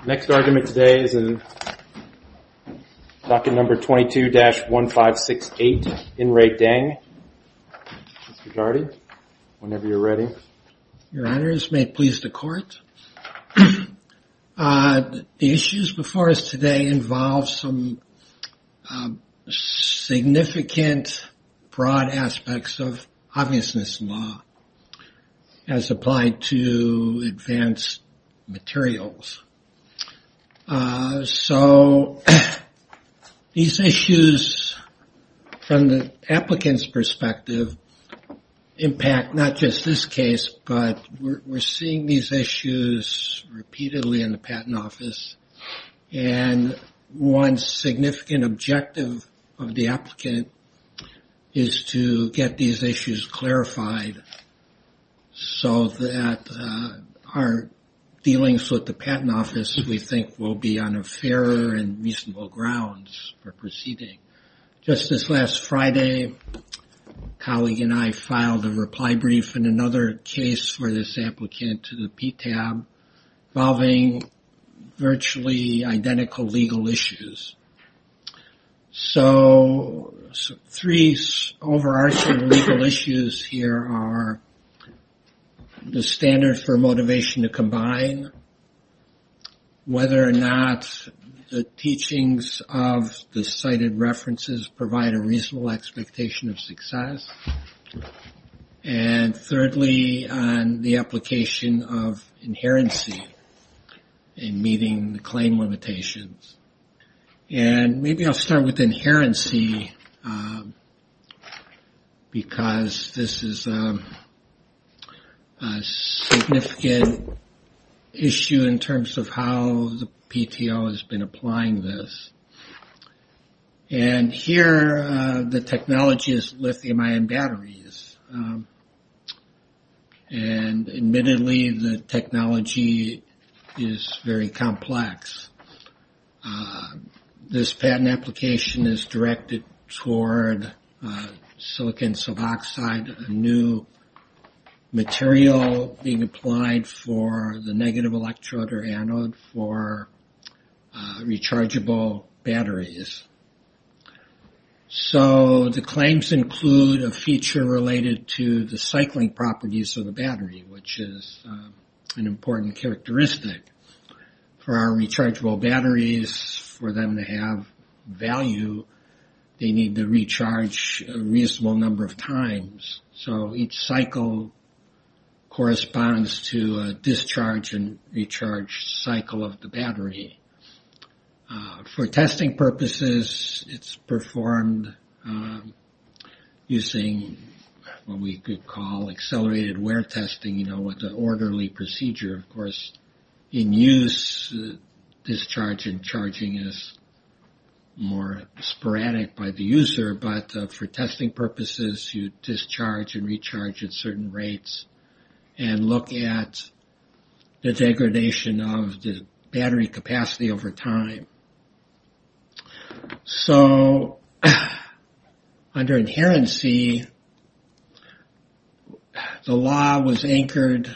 The next argument today is in docket number 22-1568 in Re Deng. Mr. Gardy, whenever you're ready. Your honors, may it please the court. The issues before us today involve some significant broad aspects of obviousness law as applied to advanced materials. So, these issues from the applicant's perspective impact not just this case, but we're seeing these issues repeatedly in the patent office. And one significant objective of the applicant is to get these issues clarified. So that our dealings with the patent office, we think will be on a fairer and reasonable grounds for proceeding. Just this last Friday, a colleague and I filed a reply brief in another case for this applicant to the PTAB involving virtually identical legal issues. So, three overarching legal issues here are the standards for motivation to combine, whether or not the teachings of the cited references provide a reasonable expectation of success, and thirdly, on the application of inherency in meeting the claim limitations. And maybe I'll start with inherency because this is a significant issue in terms of how the PTO has been applying this. And here, the technology is lithium-ion batteries. And admittedly, the technology is very complex. This patent application is directed toward silicon suboxide, a new material being applied for the negative electrode or anode for rechargeable batteries. So, the claims include a feature related to the cycling properties of the battery, which is an important characteristic. For our rechargeable batteries, for them to have value, they need to recharge a reasonable number of times. So, each cycle corresponds to a discharge and recharge cycle of the battery. For testing purposes, it's performed using what we could call accelerated wear testing, with an orderly procedure, of course. In use, discharge and charging is more sporadic by the user, but for testing purposes, you discharge and recharge at certain rates and look at the degradation of the battery capacity over time. So, under inherency, the law was anchored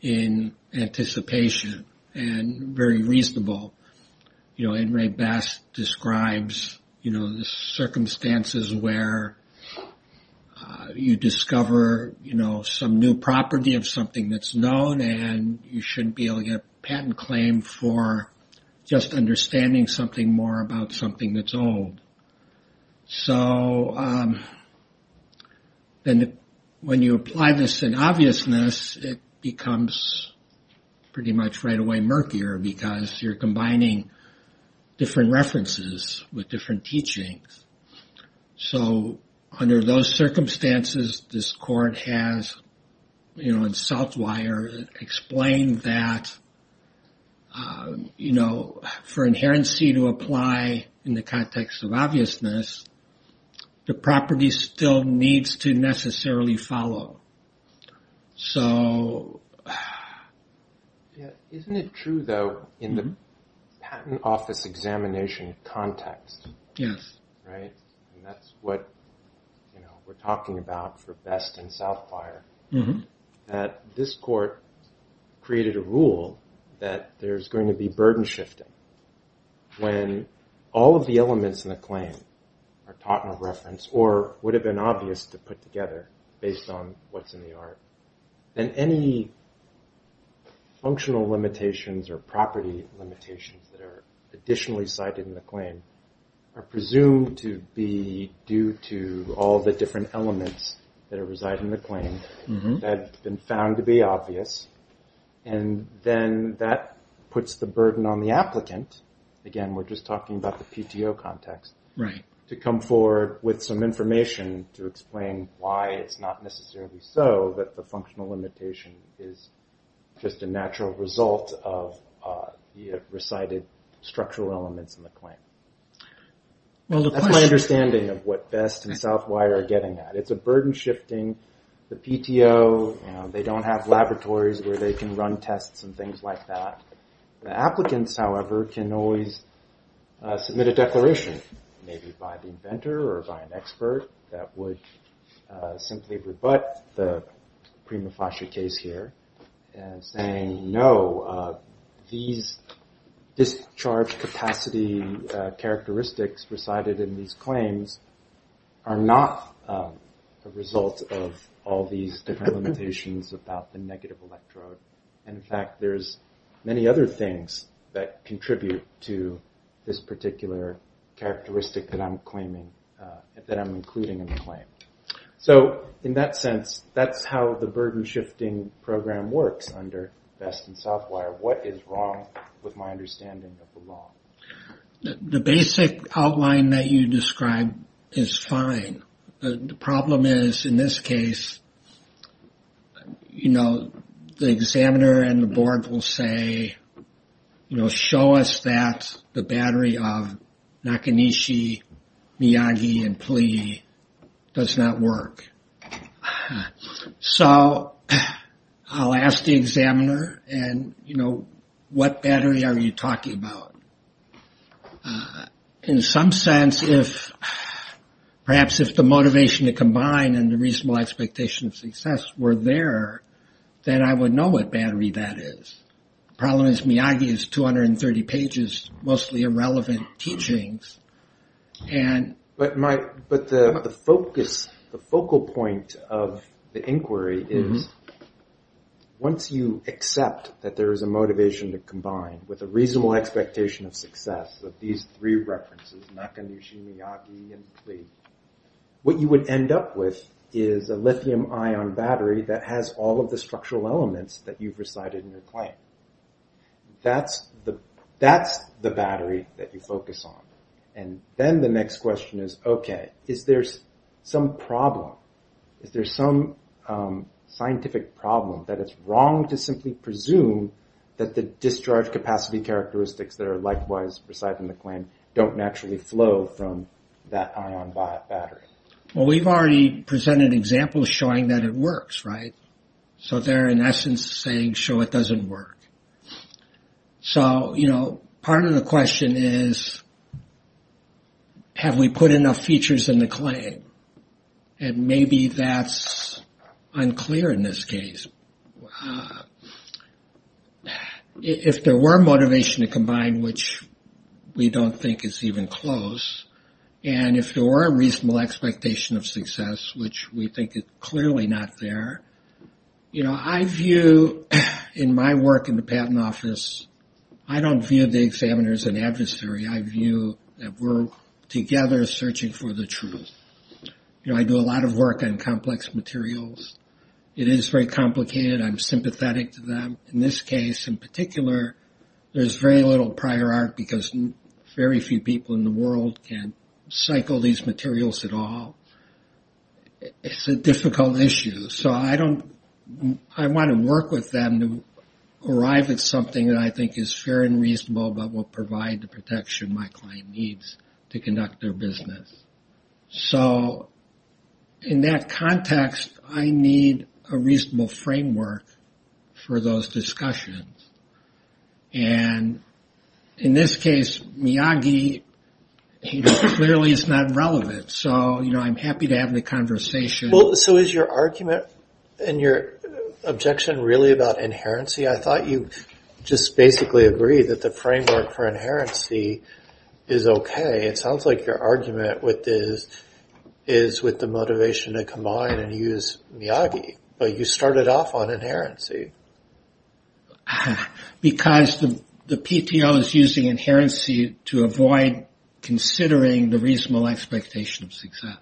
in anticipation and very reasonable. You know, Enri Bass describes, you know, the circumstances where you discover, you know, some new property of something that's known and you shouldn't be able to get a patent claim for just understanding something more about something that's old. So, then when you apply this in obviousness, it becomes pretty much right away murkier because you're combining different references with different teachings. So, under those circumstances, this court has, you know, in Southwire, explained that, you know, for inherency to apply in the context of obviousness, the property still needs to necessarily follow. So... Isn't it true, though, in the patent office examination context? Yes. Right? And that's what, you know, we're talking about for Best and Southwire, that this court created a rule that there's going to be burden shifting when all of the elements in the claim are taught in a reference or would have been obvious to put together based on what's in the art. And any functional limitations or property limitations that are additionally cited in the claim are presumed to be due to all the different elements that reside in the claim that have been found to be obvious. And then that puts the burden on the applicant. Again, we're just talking about the PTO context. Right. To come forward with some information to explain why it's not necessarily so that the functional limitation is just a natural result of the recited structural elements in the claim. That's my understanding of what Best and Southwire are getting at. It's a burden shifting. The PTO, you know, they don't have laboratories where they can run tests and things like that. The applicants, however, can always submit a declaration, maybe by the inventor or by an expert, that would simply rebut the prima facie case here and saying, no, these discharge capacity characteristics recited in these claims are not a result of all these different limitations about the negative electrode. In fact, there's many other things that contribute to this particular characteristic that I'm claiming, that I'm including in the claim. So in that sense, that's how the burden shifting program works under Best and Southwire. What is wrong with my understanding of the law? The basic outline that you described is fine. The problem is, in this case, you know, the examiner and the board will say, you know, show us that the battery of Nakanishi, Miyagi, and Pli does not work. So I'll ask the examiner, and, you know, what battery are you talking about? In some sense, perhaps if the motivation to combine and the reasonable expectation of success were there, then I would know what battery that is. The problem is Miyagi is 230 pages, mostly irrelevant teachings. But the focus, the focal point of the inquiry is once you accept that there is a motivation to combine with a reasonable expectation of success of these three references, Nakanishi, Miyagi, and Pli, what you would end up with is a lithium-ion battery that has all of the structural elements that you've recited in your claim. That's the battery that you focus on. And then the next question is, okay, is there some problem? Is there some scientific problem that it's wrong to simply presume that the discharge capacity characteristics that are likewise recited in the claim don't naturally flow from that ion battery? Well, we've already presented examples showing that it works, right? So they're, in essence, saying, sure, it doesn't work. So, you know, part of the question is, have we put enough features in the claim? And maybe that's unclear in this case. If there were motivation to combine, which we don't think is even close, and if there were a reasonable expectation of success, which we think is clearly not there, you know, I view in my work in the patent office, I don't view the examiner as an adversary. I view that we're together searching for the truth. You know, I do a lot of work on complex materials. It is very complicated. I'm sympathetic to them. In this case, in particular, there's very little prior art because very few people in the world can cycle these materials at all. It's a difficult issue. So I want to work with them to arrive at something that I think is fair and reasonable but will provide the protection my client needs to conduct their business. So in that context, I need a reasonable framework for those discussions. And in this case, Miyagi, he clearly is not relevant. So, you know, I'm happy to have the conversation. So is your argument and your objection really about inherency? See, I thought you just basically agreed that the framework for inherency is okay. It sounds like your argument with this is with the motivation to combine and use Miyagi. But you started off on inherency. Because the PTO is using inherency to avoid considering the reasonable expectation of success.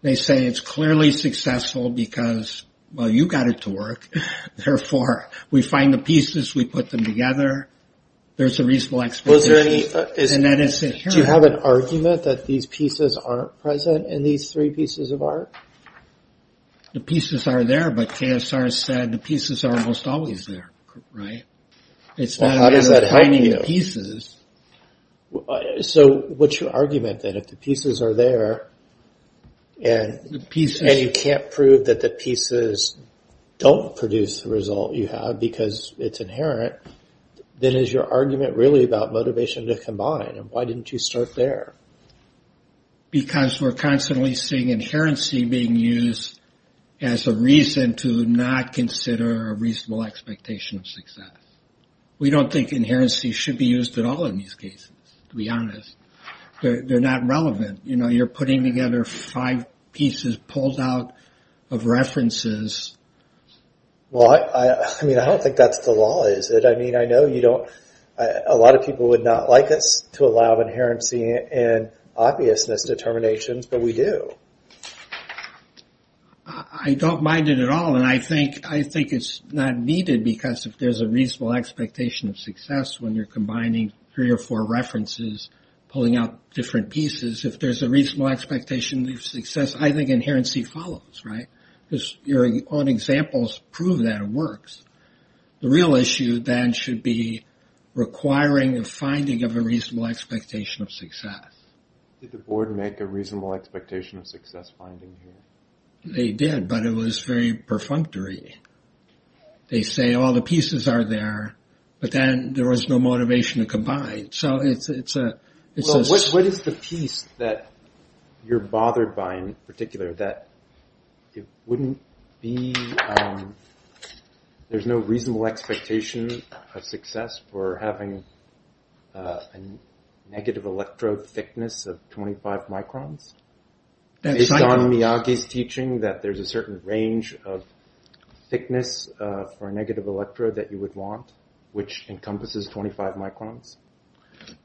They say it's clearly successful because, well, you got it to work. Therefore, we find the pieces. We put them together. There's a reasonable expectation. Do you have an argument that these pieces aren't present in these three pieces of art? The pieces are there, but KSR said the pieces are almost always there, right? How does that help you? So what's your argument then? If the pieces are there and you can't prove that the pieces don't produce the result you have because it's inherent, then is your argument really about motivation to combine? And why didn't you start there? Because we're constantly seeing inherency being used as a reason to not consider a reasonable expectation of success. We don't think inherency should be used at all in these cases, to be honest. They're not relevant. You're putting together five pieces pulled out of references. Well, I don't think that's the law, is it? I mean, I know a lot of people would not like us to allow inherency and obviousness determinations, but we do. I don't mind it at all, and I think it's not needed because if there's a reasonable expectation of success when you're combining three or four references, pulling out different pieces, if there's a reasonable expectation of success, I think inherency follows, right? Because your own examples prove that it works. The real issue then should be requiring a finding of a reasonable expectation of success. Did the board make a reasonable expectation of success finding here? They did, but it was very perfunctory. They say all the pieces are there, but then there was no motivation to combine. Well, what is the piece that you're bothered by in particular that it wouldn't be – There's no reasonable expectation of success for having a negative electrode thickness of 25 microns? Based on Miyagi's teaching that there's a certain range of thickness for a negative electrode that you would want, which encompasses 25 microns?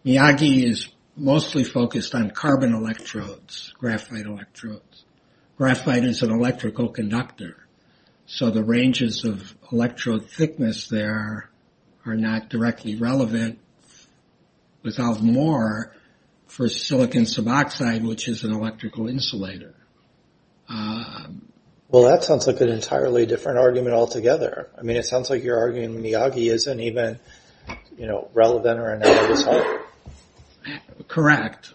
Miyagi is mostly focused on carbon electrodes, graphite electrodes. Graphite is an electrical conductor. So the ranges of electrode thickness there are not directly relevant without more for silicon suboxide, which is an electrical insulator. Well, that sounds like an entirely different argument altogether. I mean, it sounds like you're arguing Miyagi isn't even relevant or analogous at all. Correct.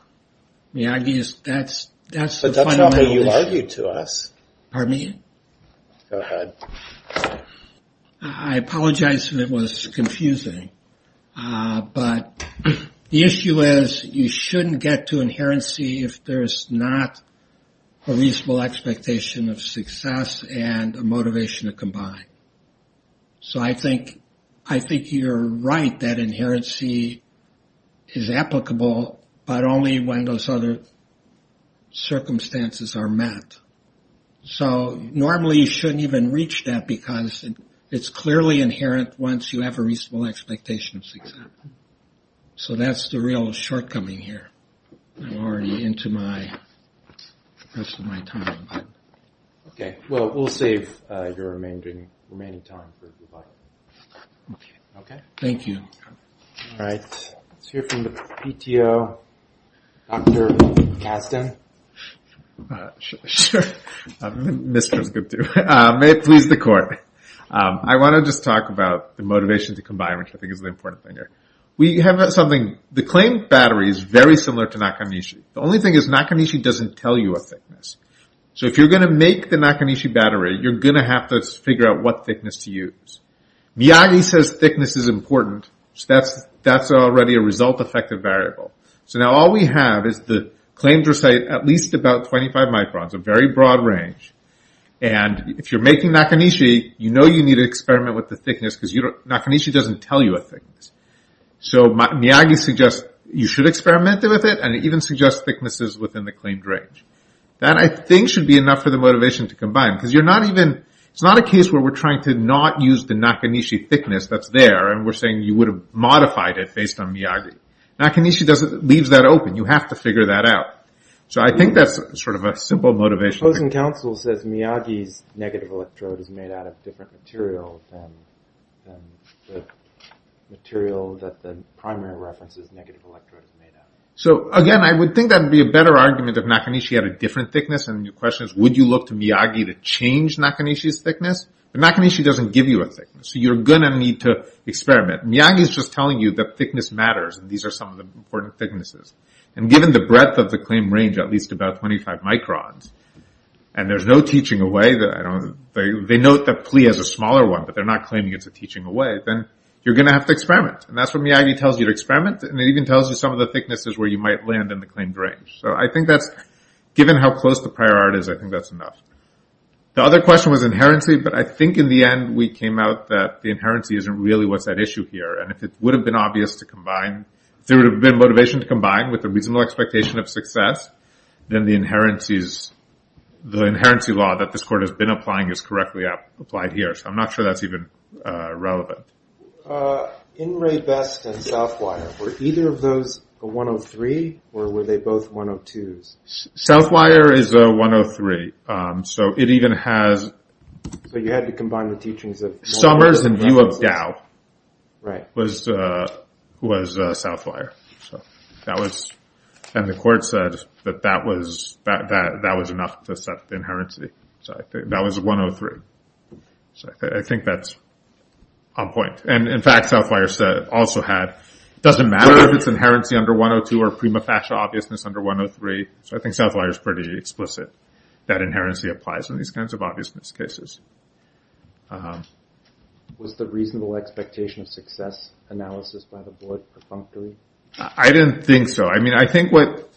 Miyagi is – that's the fundamental issue. But that's not what you argued to us. Pardon me? Go ahead. I apologize if it was confusing. But the issue is you shouldn't get to inherency if there's not a reasonable expectation of success and a motivation to combine. So I think you're right that inherency is applicable, but only when those other circumstances are met. So normally you shouldn't even reach that because it's clearly inherent once you have a reasonable expectation of success. So that's the real shortcoming here. I'm already into the rest of my time. Okay. Well, we'll save your remaining time for if you'd like. Okay. Thank you. All right. Let's hear from the PTO. Dr. Kastan. Sure. Mr. is good too. May it please the court. I want to just talk about the motivation to combine, which I think is the important thing here. We have something – the claimed battery is very similar to Nakanishi. The only thing is Nakanishi doesn't tell you a thickness. So if you're going to make the Nakanishi battery, you're going to have to figure out what thickness to use. Miyagi says thickness is important. That's already a result-effective variable. So now all we have is the claims recite at least about 25 microns, a very broad range. And if you're making Nakanishi, you know you need to experiment with the thickness because Nakanishi doesn't tell you a thickness. So Miyagi suggests you should experiment with it and even suggests thicknesses within the claimed range. That I think should be enough for the motivation to combine because you're not even – it's not a case where we're trying to not use the Nakanishi thickness that's there and we're saying you would have modified it based on Miyagi. Nakanishi leaves that open. You have to figure that out. So I think that's sort of a simple motivation. The opposing counsel says Miyagi's negative electrode is made out of different material than the material that the primary reference's negative electrode is made out of. So again, I would think that would be a better argument if Nakanishi had a different thickness. And the question is would you look to Miyagi to change Nakanishi's thickness? But Nakanishi doesn't give you a thickness. So you're going to need to experiment. Miyagi is just telling you that thickness matters. These are some of the important thicknesses. And given the breadth of the claimed range, at least about 25 microns, and there's no teaching away – they note that PLE has a smaller one, but they're not claiming it's a teaching away, then you're going to have to experiment. And that's what Miyagi tells you to experiment. And it even tells you some of the thicknesses where you might land in the claimed range. So I think that's – given how close the prior art is, I think that's enough. The other question was inherency, but I think in the end we came out that the inherency isn't really what's at issue here. And if it would have been obvious to combine – if there's a reasonable expectation of success, then the inherency law that this court has been applying is correctly applied here. So I'm not sure that's even relevant. In Ray Best and Southwire, were either of those a 103, or were they both 102s? Southwire is a 103. So it even has – So you had to combine the teachings of Northwire and Southwire. Summers in view of Dow was Southwire. So that was – and the court said that that was enough to set the inherency. So that was a 103. So I think that's on point. And, in fact, Southwire also had – it doesn't matter if it's inherency under 102 or prima facie obviousness under 103. So I think Southwire is pretty explicit that inherency applies in these kinds of obviousness cases. Was the reasonable expectation of success analysis by the board perfunctory? I didn't think so. I mean, I think what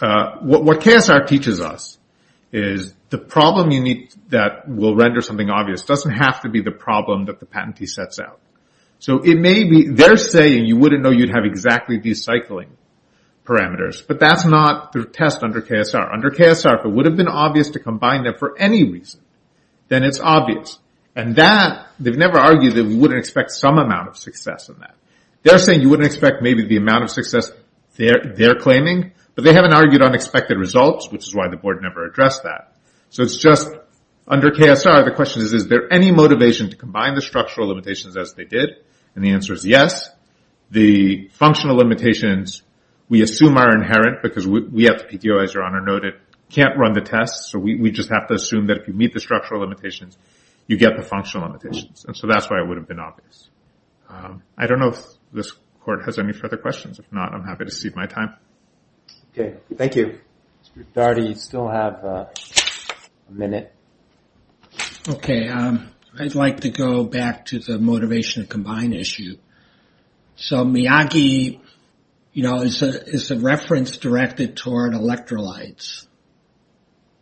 KSR teaches us is the problem that will render something obvious doesn't have to be the problem that the patentee sets out. So it may be – they're saying you wouldn't know you'd have exactly these cycling parameters. But that's not the test under KSR. Under KSR, if it would have been obvious to combine them for any reason, then it's obvious. And that – they've never argued that we wouldn't expect some amount of success in that. They're saying you wouldn't expect maybe the amount of success they're claiming. But they haven't argued unexpected results, which is why the board never addressed that. So it's just – under KSR, the question is, is there any motivation to combine the structural limitations as they did? And the answer is yes. The functional limitations we assume are inherent because we at the PTO, as Your Honor noted, can't run the tests. So we just have to assume that if you meet the structural limitations, you get the functional limitations. And so that's why it would have been obvious. I don't know if this court has any further questions. If not, I'm happy to cede my time. Okay, thank you. Dardy, you still have a minute. Okay, I'd like to go back to the motivation to combine issue. So Miyagi, you know, is a reference directed toward electrolytes.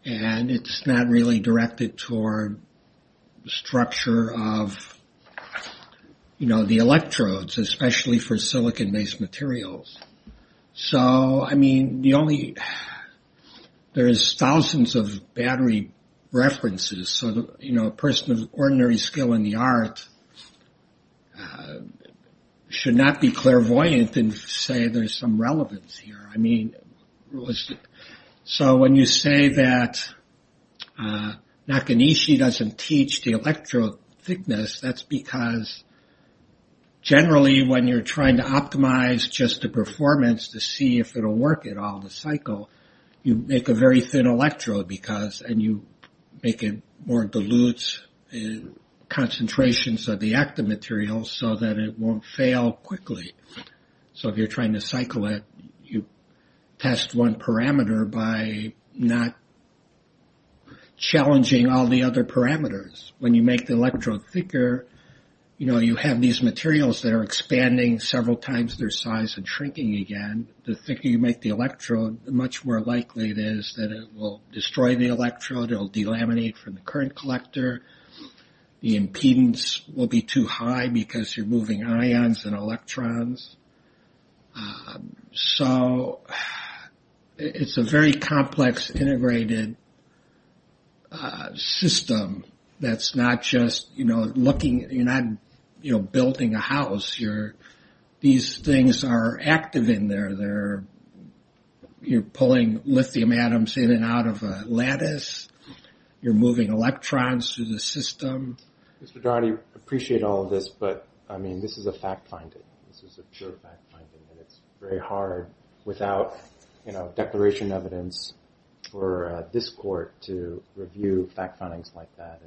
And it's not really directed toward the structure of, you know, the electrodes, especially for silicon-based materials. So, I mean, the only – there's thousands of battery references. So, you know, a person of ordinary skill in the art should not be clairvoyant and say there's some relevance here. I mean, so when you say that Nakanishi doesn't teach the electrode thickness, that's because generally when you're trying to optimize just the performance to see if it will work at all, the cycle, you make a very thin electrode because – and you make it more dilute concentrations of the active material so that it won't fail quickly. So if you're trying to cycle it, you test one parameter by not challenging all the other parameters. When you make the electrode thicker, you know, you have these materials that are expanding several times their size and shrinking again. The thicker you make the electrode, the much more likely it is that it will destroy the electrode. It will delaminate from the current collector. The impedance will be too high because you're moving ions and electrons. So it's a very complex integrated system that's not just, you know, looking – you're not, you know, building a house. These things are active in there. You're pulling lithium atoms in and out of a lattice. You're moving electrons through the system. Mr. Daugherty, I appreciate all of this, but, I mean, this is a fact-finding. This is a pure fact-finding, and it's very hard without, you know, declaration evidence for this court to review fact-findings like that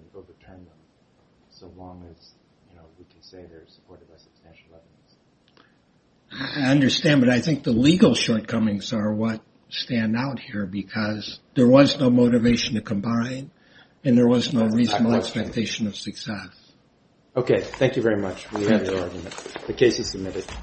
so long as, you know, we can say they're supported by substantial evidence. I understand, but I think the legal shortcomings are what stand out here because there was no motivation to combine, and there was no reasonable expectation of success. Okay, thank you very much. The case is submitted.